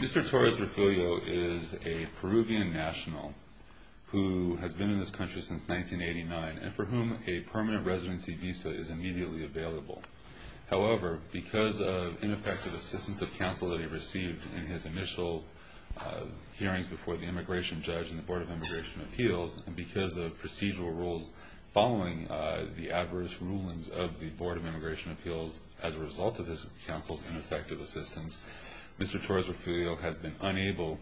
Mr. Torres-Refulio is a Peruvian national who has been in this country since 1989 and for whom a permanent residency visa is immediately available. However, because of ineffective assistance of counsel that he received in his initial hearings before the Immigration Judge and the Board of Immigration Appeals, and because of procedural rules following the adverse rulings of the Board of Immigration Appeals as a result of his counsel's ineffective assistance, Mr. Torres-Refulio has been unable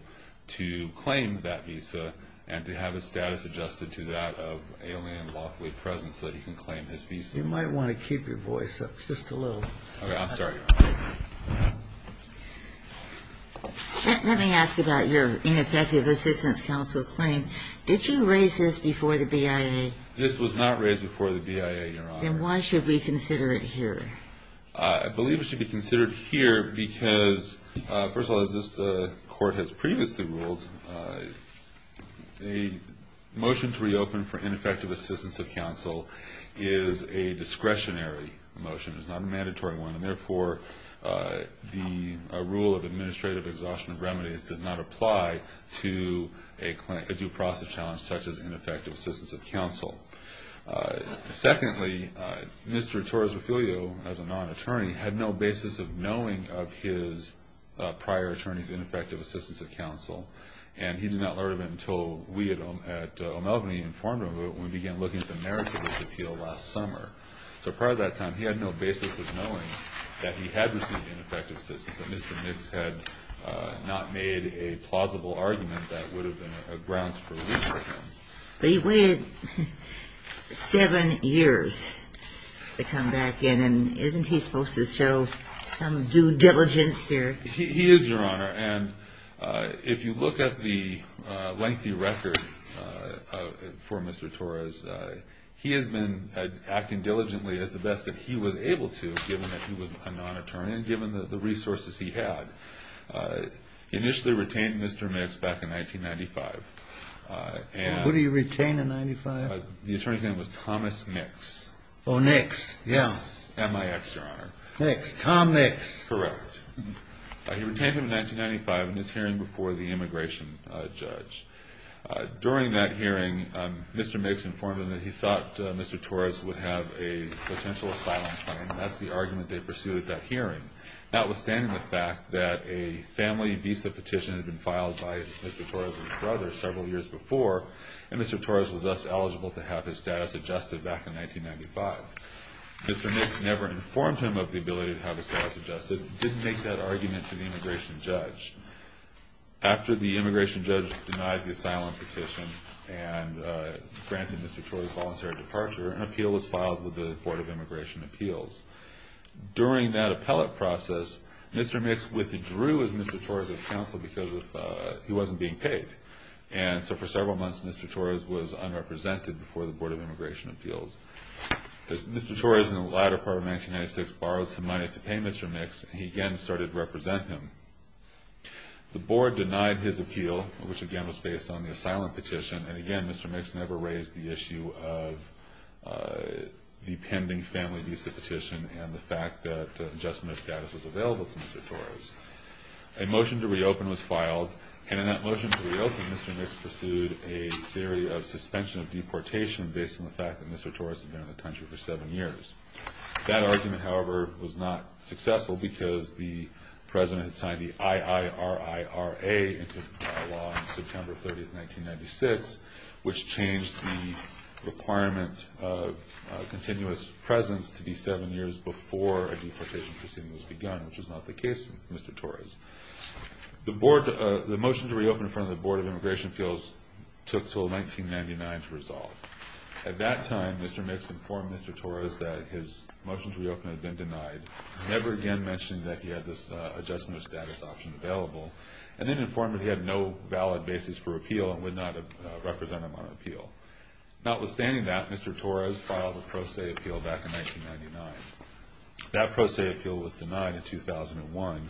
to claim that visa and to have his status adjusted to that of alien lawfully present so that he can claim his visa. Let me ask about your ineffective assistance counsel claim. Did you raise this before the BIA? This was not raised before the BIA, Your Honor. Then why should we consider it here? I believe it should be considered here because, first of all, as this Court has previously ruled, a motion to reopen for ineffective assistance of counsel is a discretionary motion. It's not a mandatory one and, therefore, the rule of administrative exhaustion of remedies does not apply to a due process challenge such as ineffective assistance of counsel. Secondly, Mr. Torres-Refulio, as a non-attorney, had no basis of knowing of his prior attorney's ineffective assistance of counsel, and he did not learn of it until we at O'Malgany informed him of it when we began looking at the merits of his appeal last summer. So part of that time, he had no basis of knowing that he had received ineffective assistance, that Mr. Nix had not made a plausible argument that would have been a grounds for re-appeal. But he waited seven years to come back in, and isn't he supposed to show some due diligence here? He is, Your Honor, and if you look at the lengthy record for Mr. Torres, he has been acting diligently as the best that he was able to, given that he was a non-attorney and given the resources he had. He initially retained Mr. Nix back in 1995. Who did he retain in 1995? The attorney's name was Thomas Nix. Oh, Nix, yeah. Nix, M-I-X, Your Honor. Nix, Tom Nix. Correct. He retained him in 1995 in his hearing before the immigration judge. During that hearing, Mr. Nix informed him that he thought Mr. Torres would have a potential asylum claim, and that's the argument they pursued at that hearing, notwithstanding the fact that a family visa petition had been filed by Mr. Torres' brother several years before, and Mr. Torres was thus eligible to have his status adjusted back in 1995. Mr. Nix never informed him of the ability to have his status adjusted and didn't make that argument to the immigration judge. After the immigration judge denied the asylum petition and granted Mr. Torres a voluntary departure, an appeal was filed with the Board of Immigration Appeals. During that appellate process, Mr. Nix withdrew as Mr. Torres' counsel because he wasn't being paid, and so for several months, Mr. Torres was unrepresented before the Board of Immigration Appeals. The Board denied his appeal, which again was based on the asylum petition, and again, Mr. Nix never raised the issue of the pending family visa petition and the fact that adjustment of status was available to Mr. Torres. A motion to reopen was filed, and in that motion to reopen, Mr. Nix pursued a theory of suspension of deportation based on the fact that Mr. Torres had been in the country for seven years. That argument, however, was not successful because the President had signed the IIRIRA into law on September 30, 1996, which changed the requirement of continuous presence to be seven years before a deportation proceeding was begun, which was not the case with Mr. Torres. The motion to reopen in front of the Board of Immigration Appeals took until 1999 to resolve. At that time, Mr. Nix informed Mr. Torres that his motion to reopen had been denied, never again mentioning that he had this adjustment of status option available, and then informed that he had no valid basis for appeal and would not represent him on appeal. Notwithstanding that, Mr. Torres filed a pro se appeal back in 1999. That pro se appeal was denied in 2001.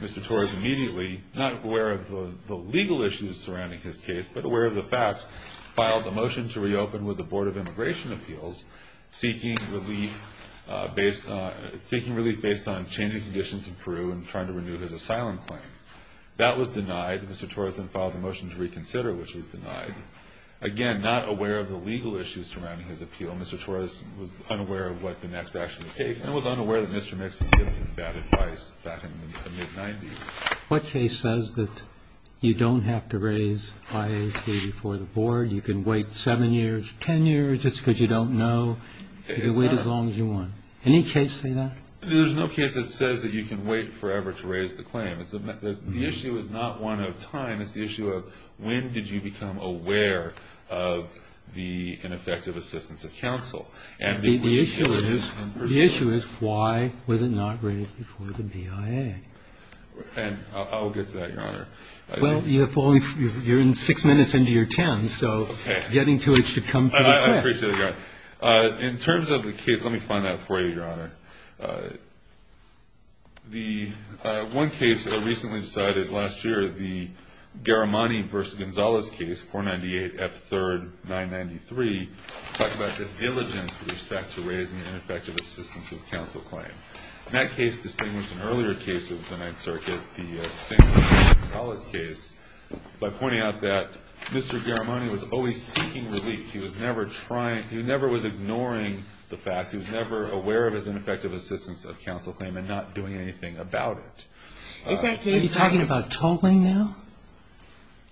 Mr. Torres immediately, not aware of the legal issues surrounding his case but aware of the facts, filed a motion to reopen with the Board of Immigration Appeals, seeking relief based on changing conditions in Peru and trying to renew his asylum claim. That was denied. Mr. Torres then filed a motion to reconsider, which was denied. Again, not aware of the legal issues surrounding his appeal, Mr. Torres was unaware of what the next action would take and was unaware that you don't have to raise IAC before the Board. You can wait 7 years, 10 years, just because you don't know. You can wait as long as you want. Any case say that? There's no case that says that you can wait forever to raise the claim. The issue is not one of time. It's the issue of when did you become aware of the ineffective assistance of counsel. The issue is why was it not raised before the BIA? I'll get to that, Your Honor. Well, you're in 6 minutes into your 10, so getting to it should come pretty quick. I appreciate it, Your Honor. In terms of the case, let me find that for you, Your Honor. The one case that was recently decided last year, the Garamani v. Gonzalez case, 498 F. 3rd, 993, talked about the diligence with respect to raising ineffective assistance of counsel claim. And that case distinguished an earlier case of the Ninth Circuit, the St. Louis v. Gonzalez case, by pointing out that Mr. Garamani was always seeking relief. He was never trying, he never was ignoring the facts. He was never aware of his ineffective assistance of counsel claim and not doing anything about it. Is that case... Are you talking about tolling now?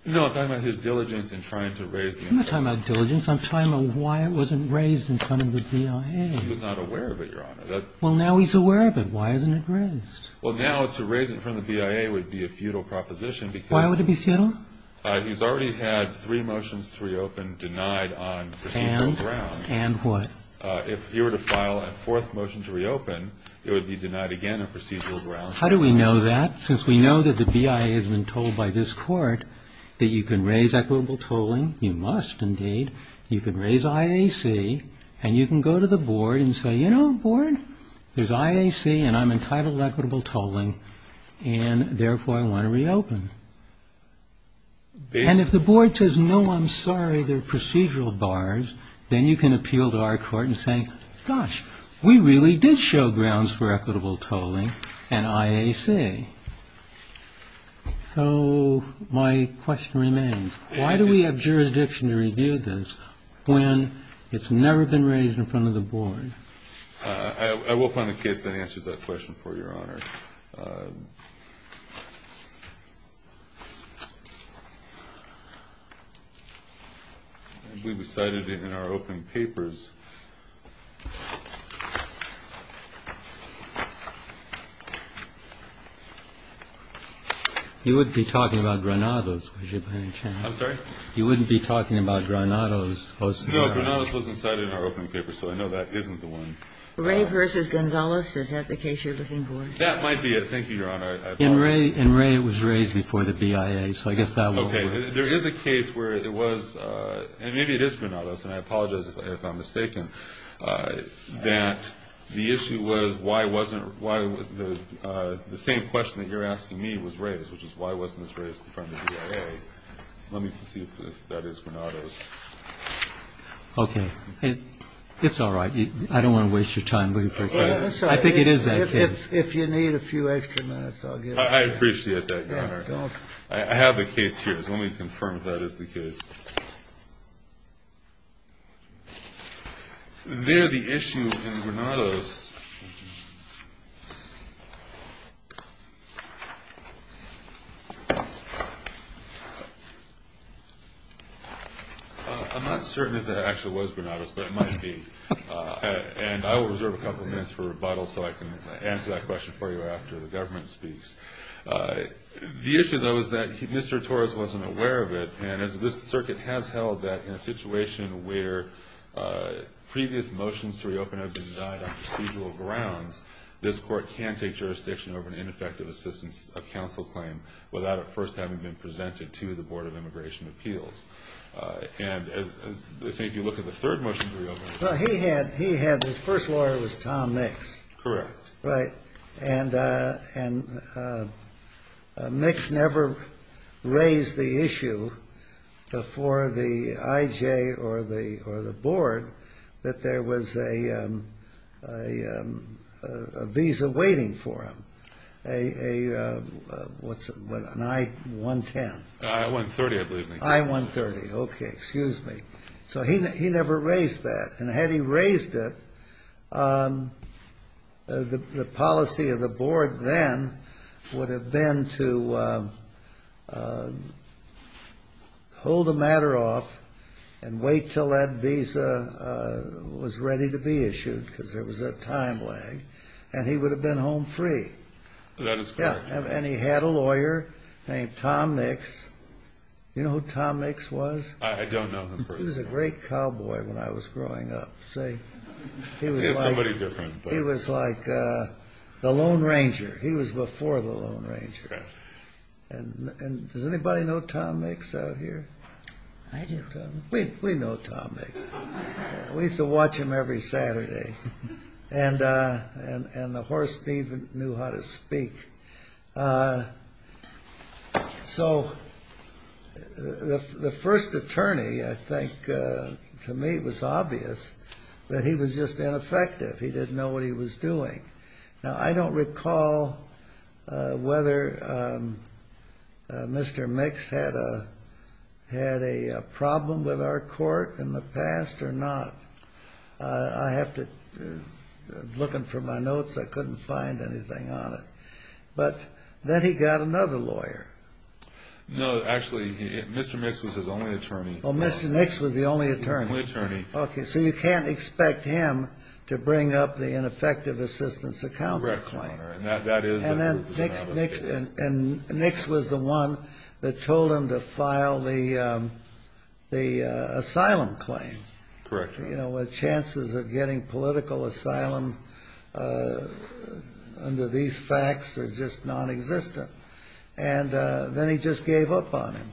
No, I'm talking about his diligence in trying to raise the... I'm not talking about diligence. I'm talking about why it wasn't raised in front of the BIA. He was not aware of it, Your Honor. Well, now he's aware of it. Why isn't it raised? Well, now to raise it in front of the BIA would be a futile proposition because... Why would it be futile? He's already had three motions to reopen denied on procedural grounds. And? And what? If he were to file a fourth motion to reopen, it would be denied again on procedural grounds. How do we know that? Since we know that the BIA has been told by this Court that you can raise IAC and you can go to the Board and say, you know, Board, there's IAC and I'm entitled to equitable tolling and therefore I want to reopen. And if the Board says, no, I'm sorry, they're procedural bars, then you can appeal to our Court and say, gosh, we really did show grounds for equitable tolling and IAC. Okay. So my question remains, why do we have jurisdiction to review this when it's never been raised in front of the Board? I will find a case that answers that question for you, Your Honor. We decided in our opening papers that there is a case where it was, and maybe it is Granados, and I apologize if I'm mistaken, that the issue was why wasn't, the same question that you're asking me was raised, which is why wasn't this raised in front of the BIA. Let me see if that is Granados. Okay. It's all right. I don't want to waste your time looking for a case. I think it is that case. If you need a few extra minutes, I'll get it. I appreciate that, Your Honor. I have the case here, so let me confirm if that is the case. There the issue in Granados. I'm not certain if that actually was Granados, but it might be. And I will reserve a couple minutes for rebuttal so I can answer that question for you after the government speaks. The issue, though, is that Mr. Torres wasn't aware of it, and this Circuit has held that in a situation where previous motions to reopen have been died on procedural grounds, this Court can take jurisdiction over an ineffective assistance of counsel claim without it first having been presented to the Board of Immigration Appeals. And if you look at the third motion to reopen... Well, he had, his first lawyer was Tom Nix. Correct. And Nix never raised the issue for the IJ or the Board that there was a visa waiting for him, an I-110. I-130, I believe. I-130. Okay, excuse me. So he never raised that. And had he raised it, the policy of the Board then would have been to hold the matter off and wait until that visa was ready to be issued, because there was a time lag, and he would have been home free. I don't know him personally. He was a great cowboy when I was growing up. He was like the Lone Ranger. He was before the Lone Ranger. And does anybody know Tom Nix out here? I do. We know Tom Nix. We used to watch him every Saturday. And the horse even knew how to speak. So the first attorney, I think, to me it was obvious that he was just ineffective. He didn't know what he was doing. Now, I don't recall whether Mr. Nix had a problem with our court in the past or not. Looking for my notes, I couldn't find anything on it. But then he got another lawyer. No, actually, Mr. Nix was his only attorney. Okay, so you can't expect him to bring up the ineffective assistance of counsel claim. And then Nix was the one that told him to file the asylum claim. Chances of getting political asylum under these facts are just non-existent. And then he just gave up on him.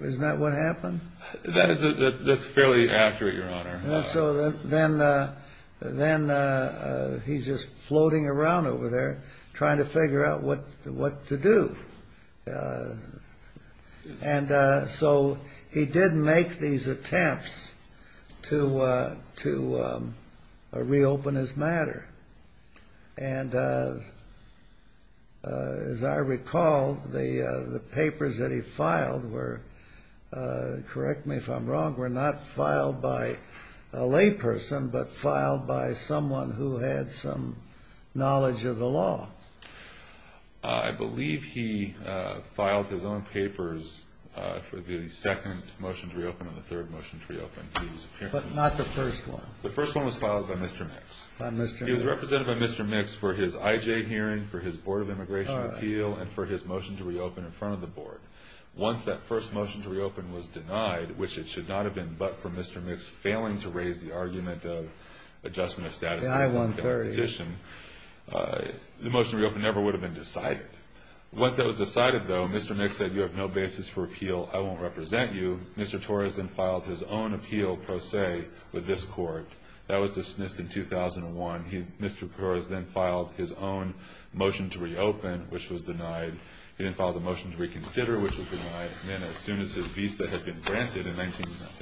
Isn't that what happened? That's fairly accurate, Your Honor. Then he's just floating around over there trying to figure out what to do. And so he did make these attempts to reopen his matter. And as I recall, the papers that he filed were correct me if I'm wrong, were not filed by a layperson, but filed by someone who had some knowledge of the law. I believe he filed his own papers for the second motion to reopen and the third motion to reopen. But not the first one. The first one was filed by Mr. Nix. He was represented by Mr. Nix for his IJ hearing, for his board of immigration appeal, and for his motion to reopen in front of the board. Once that first motion to reopen was denied, which it should not have been but for Mr. Nix failing to raise the argument of adjustment of status quo. The motion to reopen never would have been decided. Once that was decided, though, Mr. Nix said you have no basis for appeal. I won't represent you. Mr. Torres then filed his own appeal pro se with this court. That was dismissed in 2001. Mr. Torres then filed his own motion to reopen, which was denied. He then filed a motion to reconsider, which was denied. And then as soon as his visa had been granted in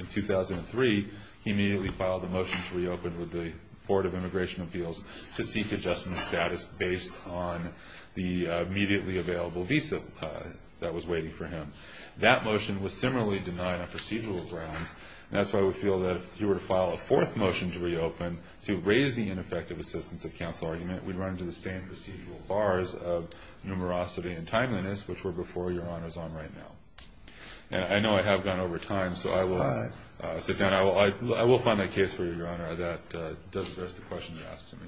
2003, he immediately filed a motion to reopen with the board of immigration appeals to seek adjustment of status based on the immediately available visa that was waiting for him. That motion was similarly denied on procedural grounds. And that's why we feel that if you were to file a fourth motion to reopen to raise the ineffective assistance of counsel argument, we'd run into the same procedural bars of numerosity and timeliness which were before Your Honor's on right now. And I know I have gone over time, so I will sit down. I will find a case for you, Your Honor. That's the question you asked of me.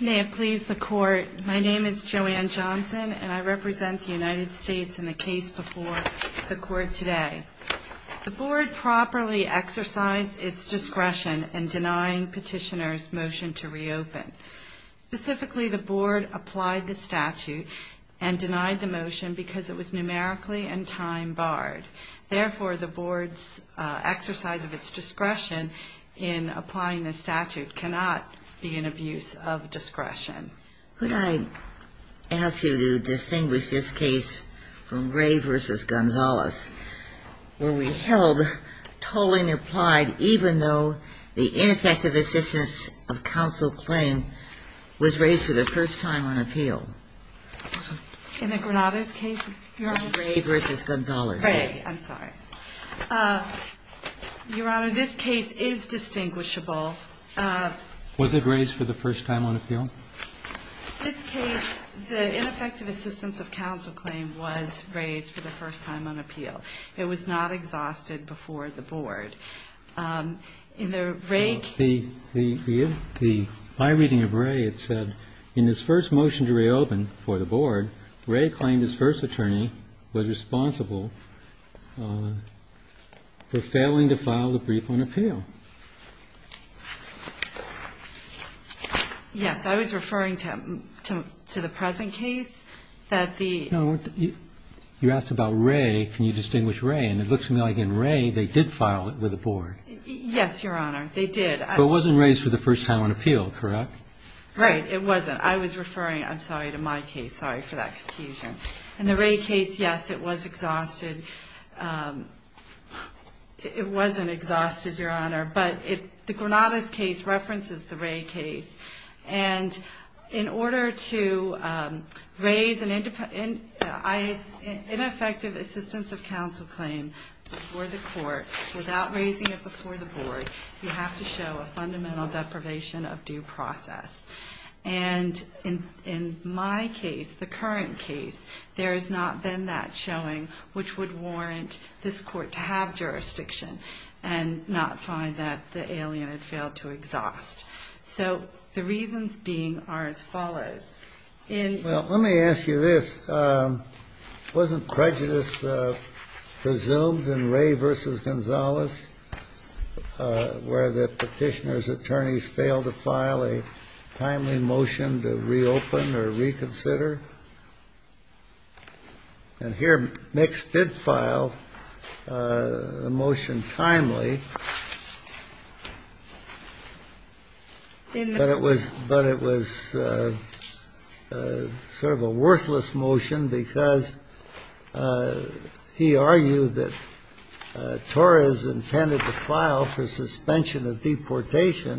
May it please the court, my name is Joanne Johnson, and I represent the United States in the case before the court today. The board properly exercised its discretion in denying petitioner's motion to reopen. Specifically, the board applied the statute and denied the motion because it was numerically and time barred. Therefore, the board's exercise of its discretion in applying the statute cannot be an abuse of discretion. Could I ask you to distinguish this case from Gray v. Gonzalez, where we held tolling applied even though the ineffective assistance of counsel claim was raised for the first time on appeal? In the Granada's case? I'm sorry. Your Honor, this case is distinguishable. Was it raised for the first time on appeal? This case, the ineffective assistance of counsel claim was raised for the first time on appeal. It was not exhausted before the board. In the Rae case? In this first motion to reopen for the board, Rae claimed his first attorney was responsible for failing to file the brief on appeal. Yes. I was referring to the present case. You asked about Rae. Can you distinguish Rae? It looks like in Rae they did file it with the board. Yes, Your Honor. It wasn't raised for the first time on appeal, correct? Right, it wasn't. I was referring, I'm sorry, to my case. Sorry for that confusion. In the Rae case, yes, it was exhausted. It wasn't exhausted, Your Honor, but the Granada's case references the Rae case. In order to raise an ineffective assistance of counsel claim before the court without raising it before the board, you have to show a fundamental deprivation of due process. In my case, the current case, there has not been that showing, which would warrant this court to have jurisdiction and not find that the alien had failed to exhaust. So the reasons being are as follows. Well, let me ask you this. Wasn't prejudice presumed in Rae v. Gonzalez, where the petitioner's attorneys failed to file a timely motion to reopen or reconsider? And here, Mix did file the motion timely. But it was sort of a worthless motion because he argued that Torres intended to file for suspension of deportation,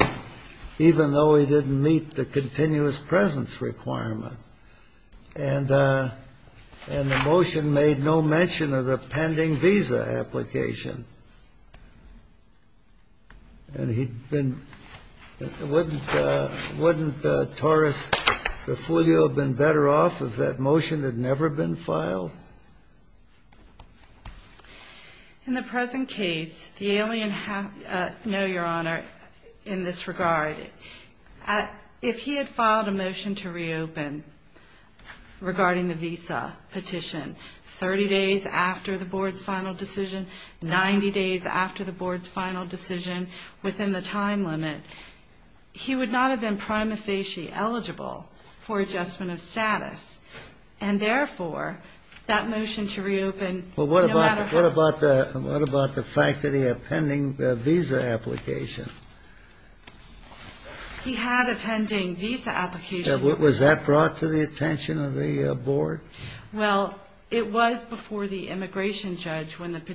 even though he didn't meet the continuous presence requirement. And the motion made no mention of the pending visa application. And he'd been – wouldn't Torres-Refugio have been better off if that motion had never been filed? In the present case, the alien – no, Your Honor, in this regard. If he had filed a motion to reopen regarding the visa petition 30 days after the board's final decision, 90 days after the board's final decision, within the time limit, he would not have been prima facie eligible for adjustment of status. And therefore, that motion to reopen – Well, what about the fact that he had pending visa application? He had a pending visa application. Was that brought to the attention of the board? No, Your Honor. No, Your Honor. No, Your Honor. No, Your Honor. What was the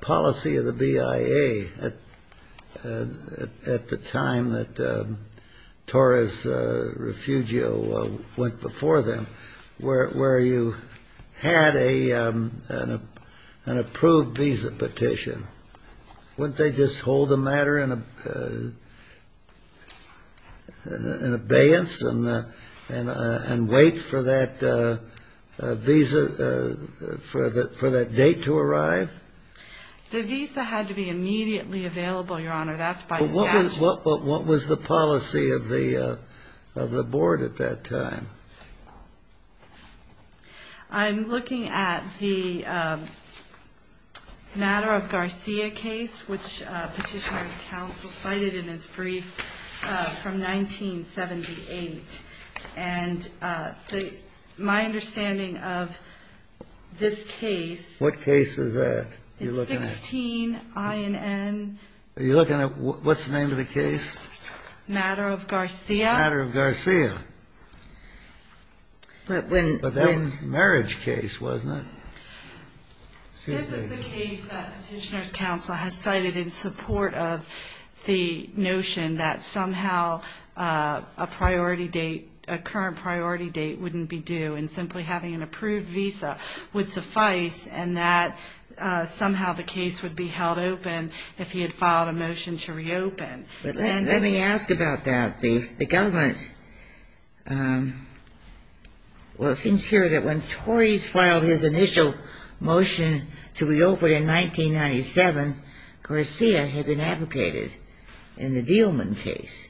policy of the BIA at the time that Torres-Refugio went before them, where you had an approved visa petition? Wouldn't they just hold the matter in abeyance and wait for that visa petition to be approved? The visa had to be immediately available, Your Honor. That's by statute. What was the policy of the board at that time? I'm looking at the Matter of Garcia case, which Petitioner's counsel cited in his brief from 1978. And my understanding of this case – What case is that you're looking at? It's 16 INN – Are you looking at – what's the name of the case? Matter of Garcia. But that was a marriage case, wasn't it? This is the case that Petitioner's counsel has cited in support of the notion that somehow a current priority date wouldn't be due, and simply having an approved visa would suffice, and that somehow the case would be held open if he had filed a motion to reopen. But let me ask about that. The government – well, it seems here that when Torres filed his initial motion to reopen in 1997, Garcia had been advocated in the Dealman case.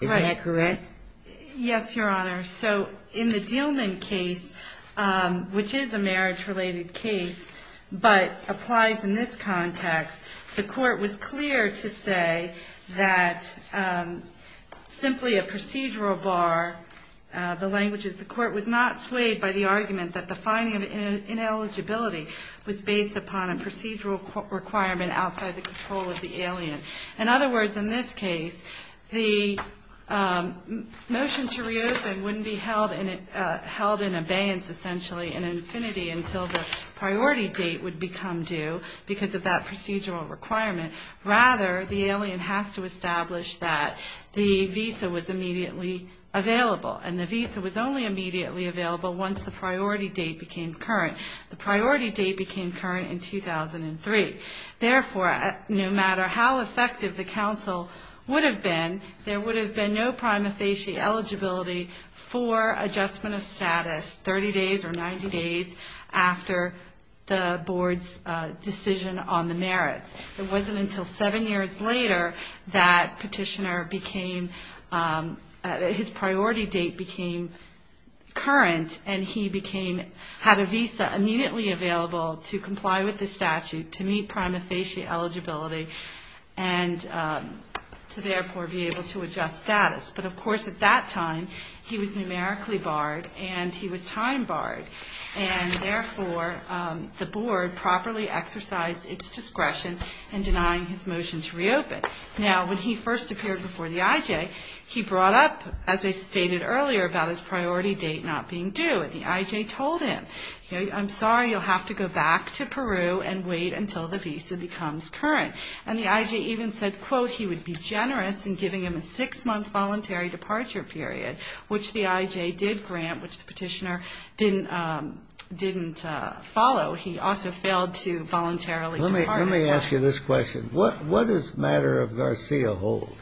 Is that correct? Yes, Your Honor. So in the Dealman case, which is a marriage-related case, but applies in this context, the court was clear to say that simply a procedural bar – the language is the court was not swayed by the argument that the finding of ineligibility was based upon a procedural requirement outside the control of the alien. In other words, in this case, the motion to reopen wouldn't be held in abeyance essentially in infinity until the priority date would become due because of that procedural requirement. Rather, the alien has to establish that the visa was immediately available. And the visa was only immediately available once the priority date became current. The priority date became current in 2003. Therefore, no matter how effective the counsel would have been, there would have been no prima facie eligibility for adjustment of status 30 days or 90 days after the board's decision on the merits. It wasn't until seven years later that petitioner became – his priority date became current, and he became – had a visa up and running. He was immediately available to comply with the statute, to meet prima facie eligibility, and to therefore be able to adjust status. But of course, at that time, he was numerically barred, and he was time barred. And therefore, the board properly exercised its discretion in denying his motion to reopen. Now, when he first appeared before the IJ, he brought up, as I stated earlier, about his priority date not being due. And the IJ told him, you know, I'm sorry, you'll have to go back to Peru and wait until the visa becomes current. And the IJ even said, quote, he would be generous in giving him a six-month voluntary departure period, which the IJ did grant, which the petitioner didn't follow. He also failed to voluntarily depart. Now, let me ask you this question. What does the matter of Garcia hold?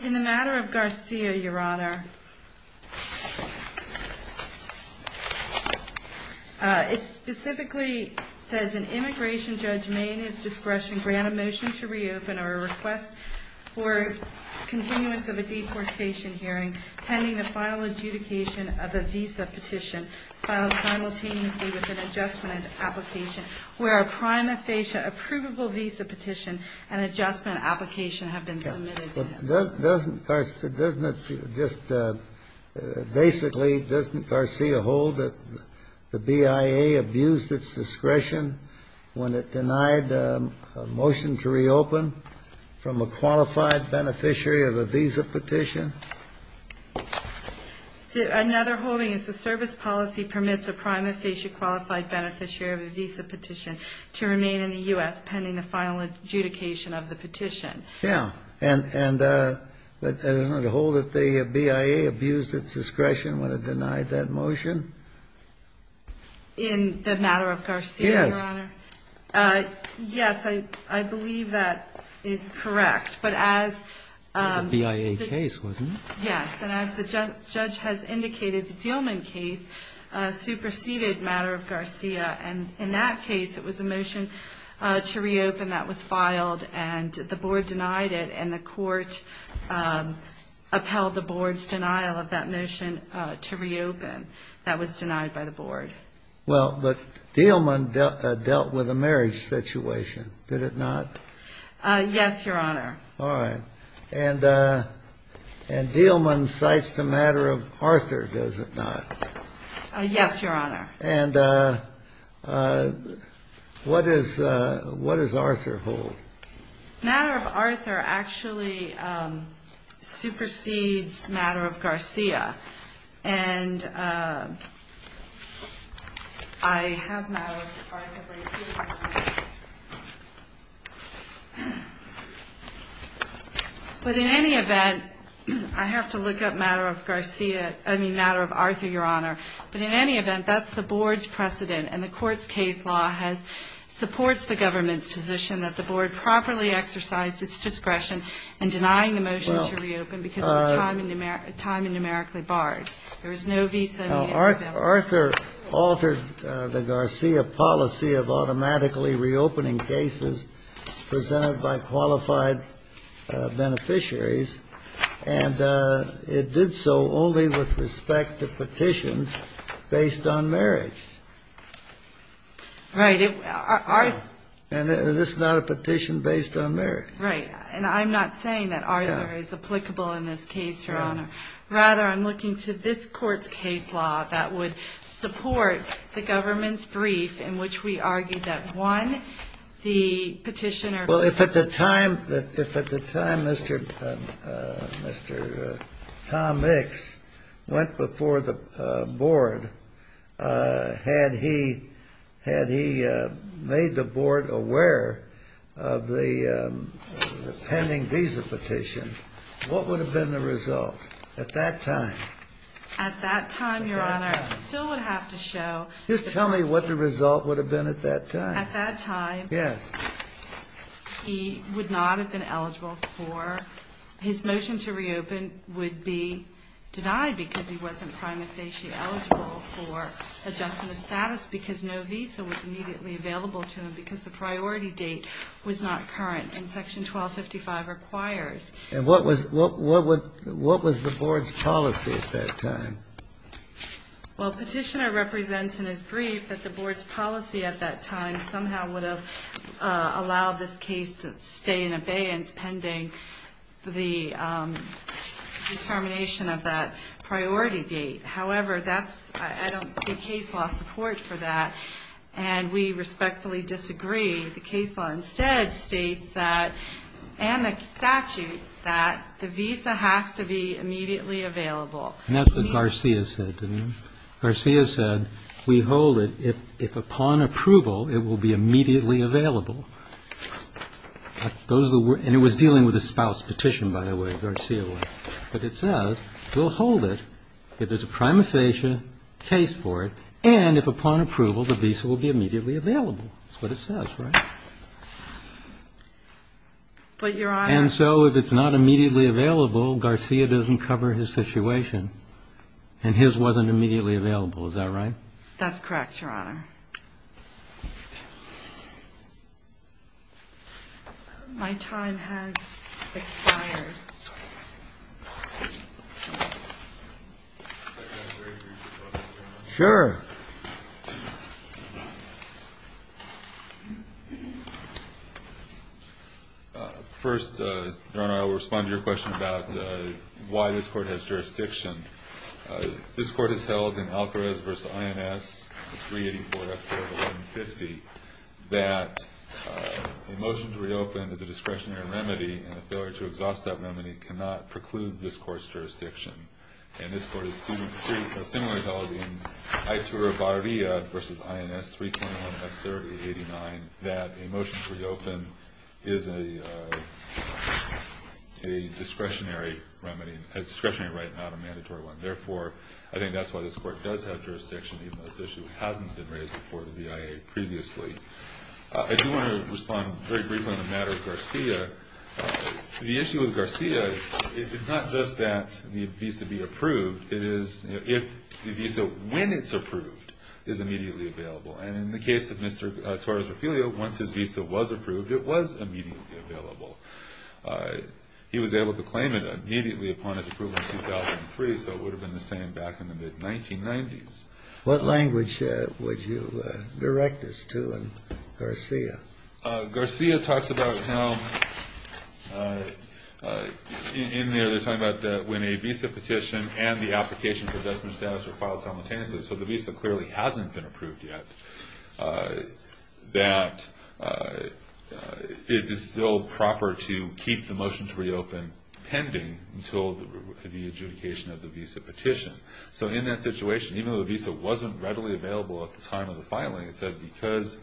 In the matter of Garcia, Your Honor, it specifically says, an immigration judge may, in his discretion, grant a motion to reopen or a request for continuance of a deportation hearing pending the final adjudication of a visa petition filed simultaneously with an adjustment application, where a prima facie eligibility is required. Does Garcia hold that the BIA abused its discretion when it denied a motion to reopen from a qualified beneficiary of a visa petition? Another holding is the service policy permits a prima facie qualified beneficiary of a visa petition to remain in the U.S. pending the final adjudication of the petition. And does it hold that the BIA abused its discretion when it denied that motion? In the matter of Garcia, Your Honor? Yes. Yes, I believe that is correct. But as the BIA case was, yes. And as the judge has indicated, the Dillman case superseded the matter of Garcia. And in that case, it was a motion to reopen that was filed, and the board denied it. And the court upheld the board's denial of that motion to reopen that was denied by the board. Well, but Dillman dealt with a marriage situation, did it not? Yes, Your Honor. All right. And Dillman cites the matter of Arthur, does it not? Yes, Your Honor. And what does Arthur hold? Matter of Arthur actually supersedes matter of Garcia. And I have matter of Arthur. But in any event, I have to look up matter of Garcia, I mean, matter of Arthur, Your Honor. But in any event, that's the board's precedent. And the court's case law has, supports the government's position that the board properly exercised its discretion in denying the motion to reopen because it was time and numerically barred. There was no visa. Arthur altered the Garcia policy of automatically reopening cases presented by qualified beneficiaries, and it did so only with respect to Right. And this is not a petition based on marriage. Right. And I'm not saying that Arthur is applicable in this case, Your Honor. Rather, I'm looking to this court's case law that would support the government's brief in which we argued that one, the petitioner had he made the board aware of the pending visa petition. What would have been the result at that time? At that time, Your Honor, still would have to show. Just tell me what the result would have been at that time. At that time, yes, he would not have been eligible for his motion to reopen would be denied because he wasn't prima facie eligible for adjustment of status because no visa was immediately available to him because the priority date was not current in Section 1255 requires. And what was what would what was the board's policy at that time? Well, petitioner represents in his brief that the board's policy at that time somehow would have allowed this case to stay in abeyance pending the determination of that priority date. However, that's I don't see case law support for that. And we respectfully disagree. The case law instead states that and the statute that the visa has to be immediately available. And that's what Garcia said. Garcia said we hold it. If upon approval, it will be immediately available. And it was dealing with a spouse petition, by the way, Garcia was. But it says we'll hold it if there's a prima facie case for it. And if upon approval, the visa will be immediately available. That's what it says, right? But you're on. And so if it's not immediately available, Garcia doesn't cover his situation. And his wasn't immediately available. Is that right? That's correct, Your Honor. My time has expired. Sure. First, Your Honor, I will respond to your question about why this court has jurisdiction. This court has held in Alcarez v. INS 384 F. 450 that a motion to reopen is a discretionary remedy and a failure to exhaust that discretionary remedy cannot preclude this court's jurisdiction. And this court has similarly held in Iturribarria v. INS 381 F. 3089 that a motion to reopen is a discretionary remedy, a discretionary right, not a mandatory one. Therefore, I think that's why this court does have jurisdiction, even though this issue hasn't been raised before to the IA previously. I do want to respond very briefly on the matter of Garcia. The issue with Garcia, it's not just that the visa be approved. It is if the visa, when it's approved, is immediately available. And in the case of Mr. Torres Ophelia, once his visa was approved, it was immediately available. He was able to claim it immediately upon its approval in 2003, so it would have been the same back in the mid-1990s. What language would you direct this to in Garcia? Garcia talks about how in there they're talking about when a visa petition and the application for decimation status are filed simultaneously, so the visa clearly hasn't been approved yet, that it is still proper to keep the motion to reopen pending until the adjudication of the visa petition. So in that situation, even though the visa wasn't readily available at the time of the filing, it said because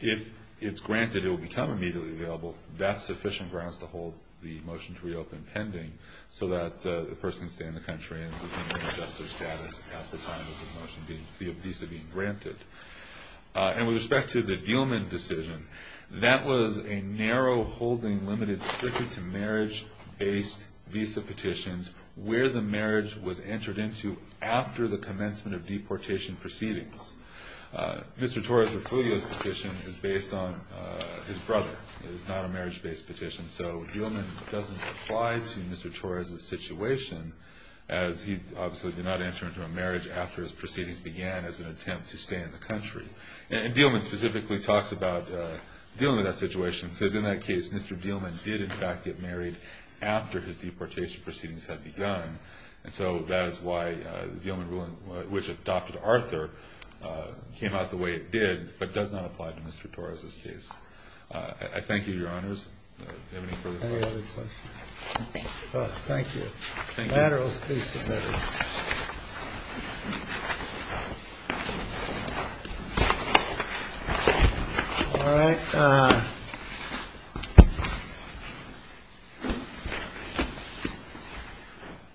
if it's granted, it will become immediately available, that's sufficient grounds to hold the motion to reopen pending so that the person can stay in the country and maintain their justice status at the time of the visa being granted. And with respect to the Dielman decision, that was a narrow holding limited strictly to marriage-based visa petitions where the marriage was entered into after the commencement of deportation proceedings. Mr. Torres Ophelia's petition is based on his brother. It is not a marriage-based petition, so Dielman doesn't apply to Mr. Torres' situation, as he obviously did not enter into a marriage after his proceedings began as an attempt to stay in the country. And Dielman specifically talks about dealing with that situation, because in that case, Mr. Dielman did in fact get married after his deportation proceedings had begun. And so that is why the Dielman ruling, which adopted Arthur, came out the way it did, but does not apply to Mr. Torres' case. I thank you, Your Honors. Do you have any further questions? Thank you. Laterals, please submit. Thank you. All right.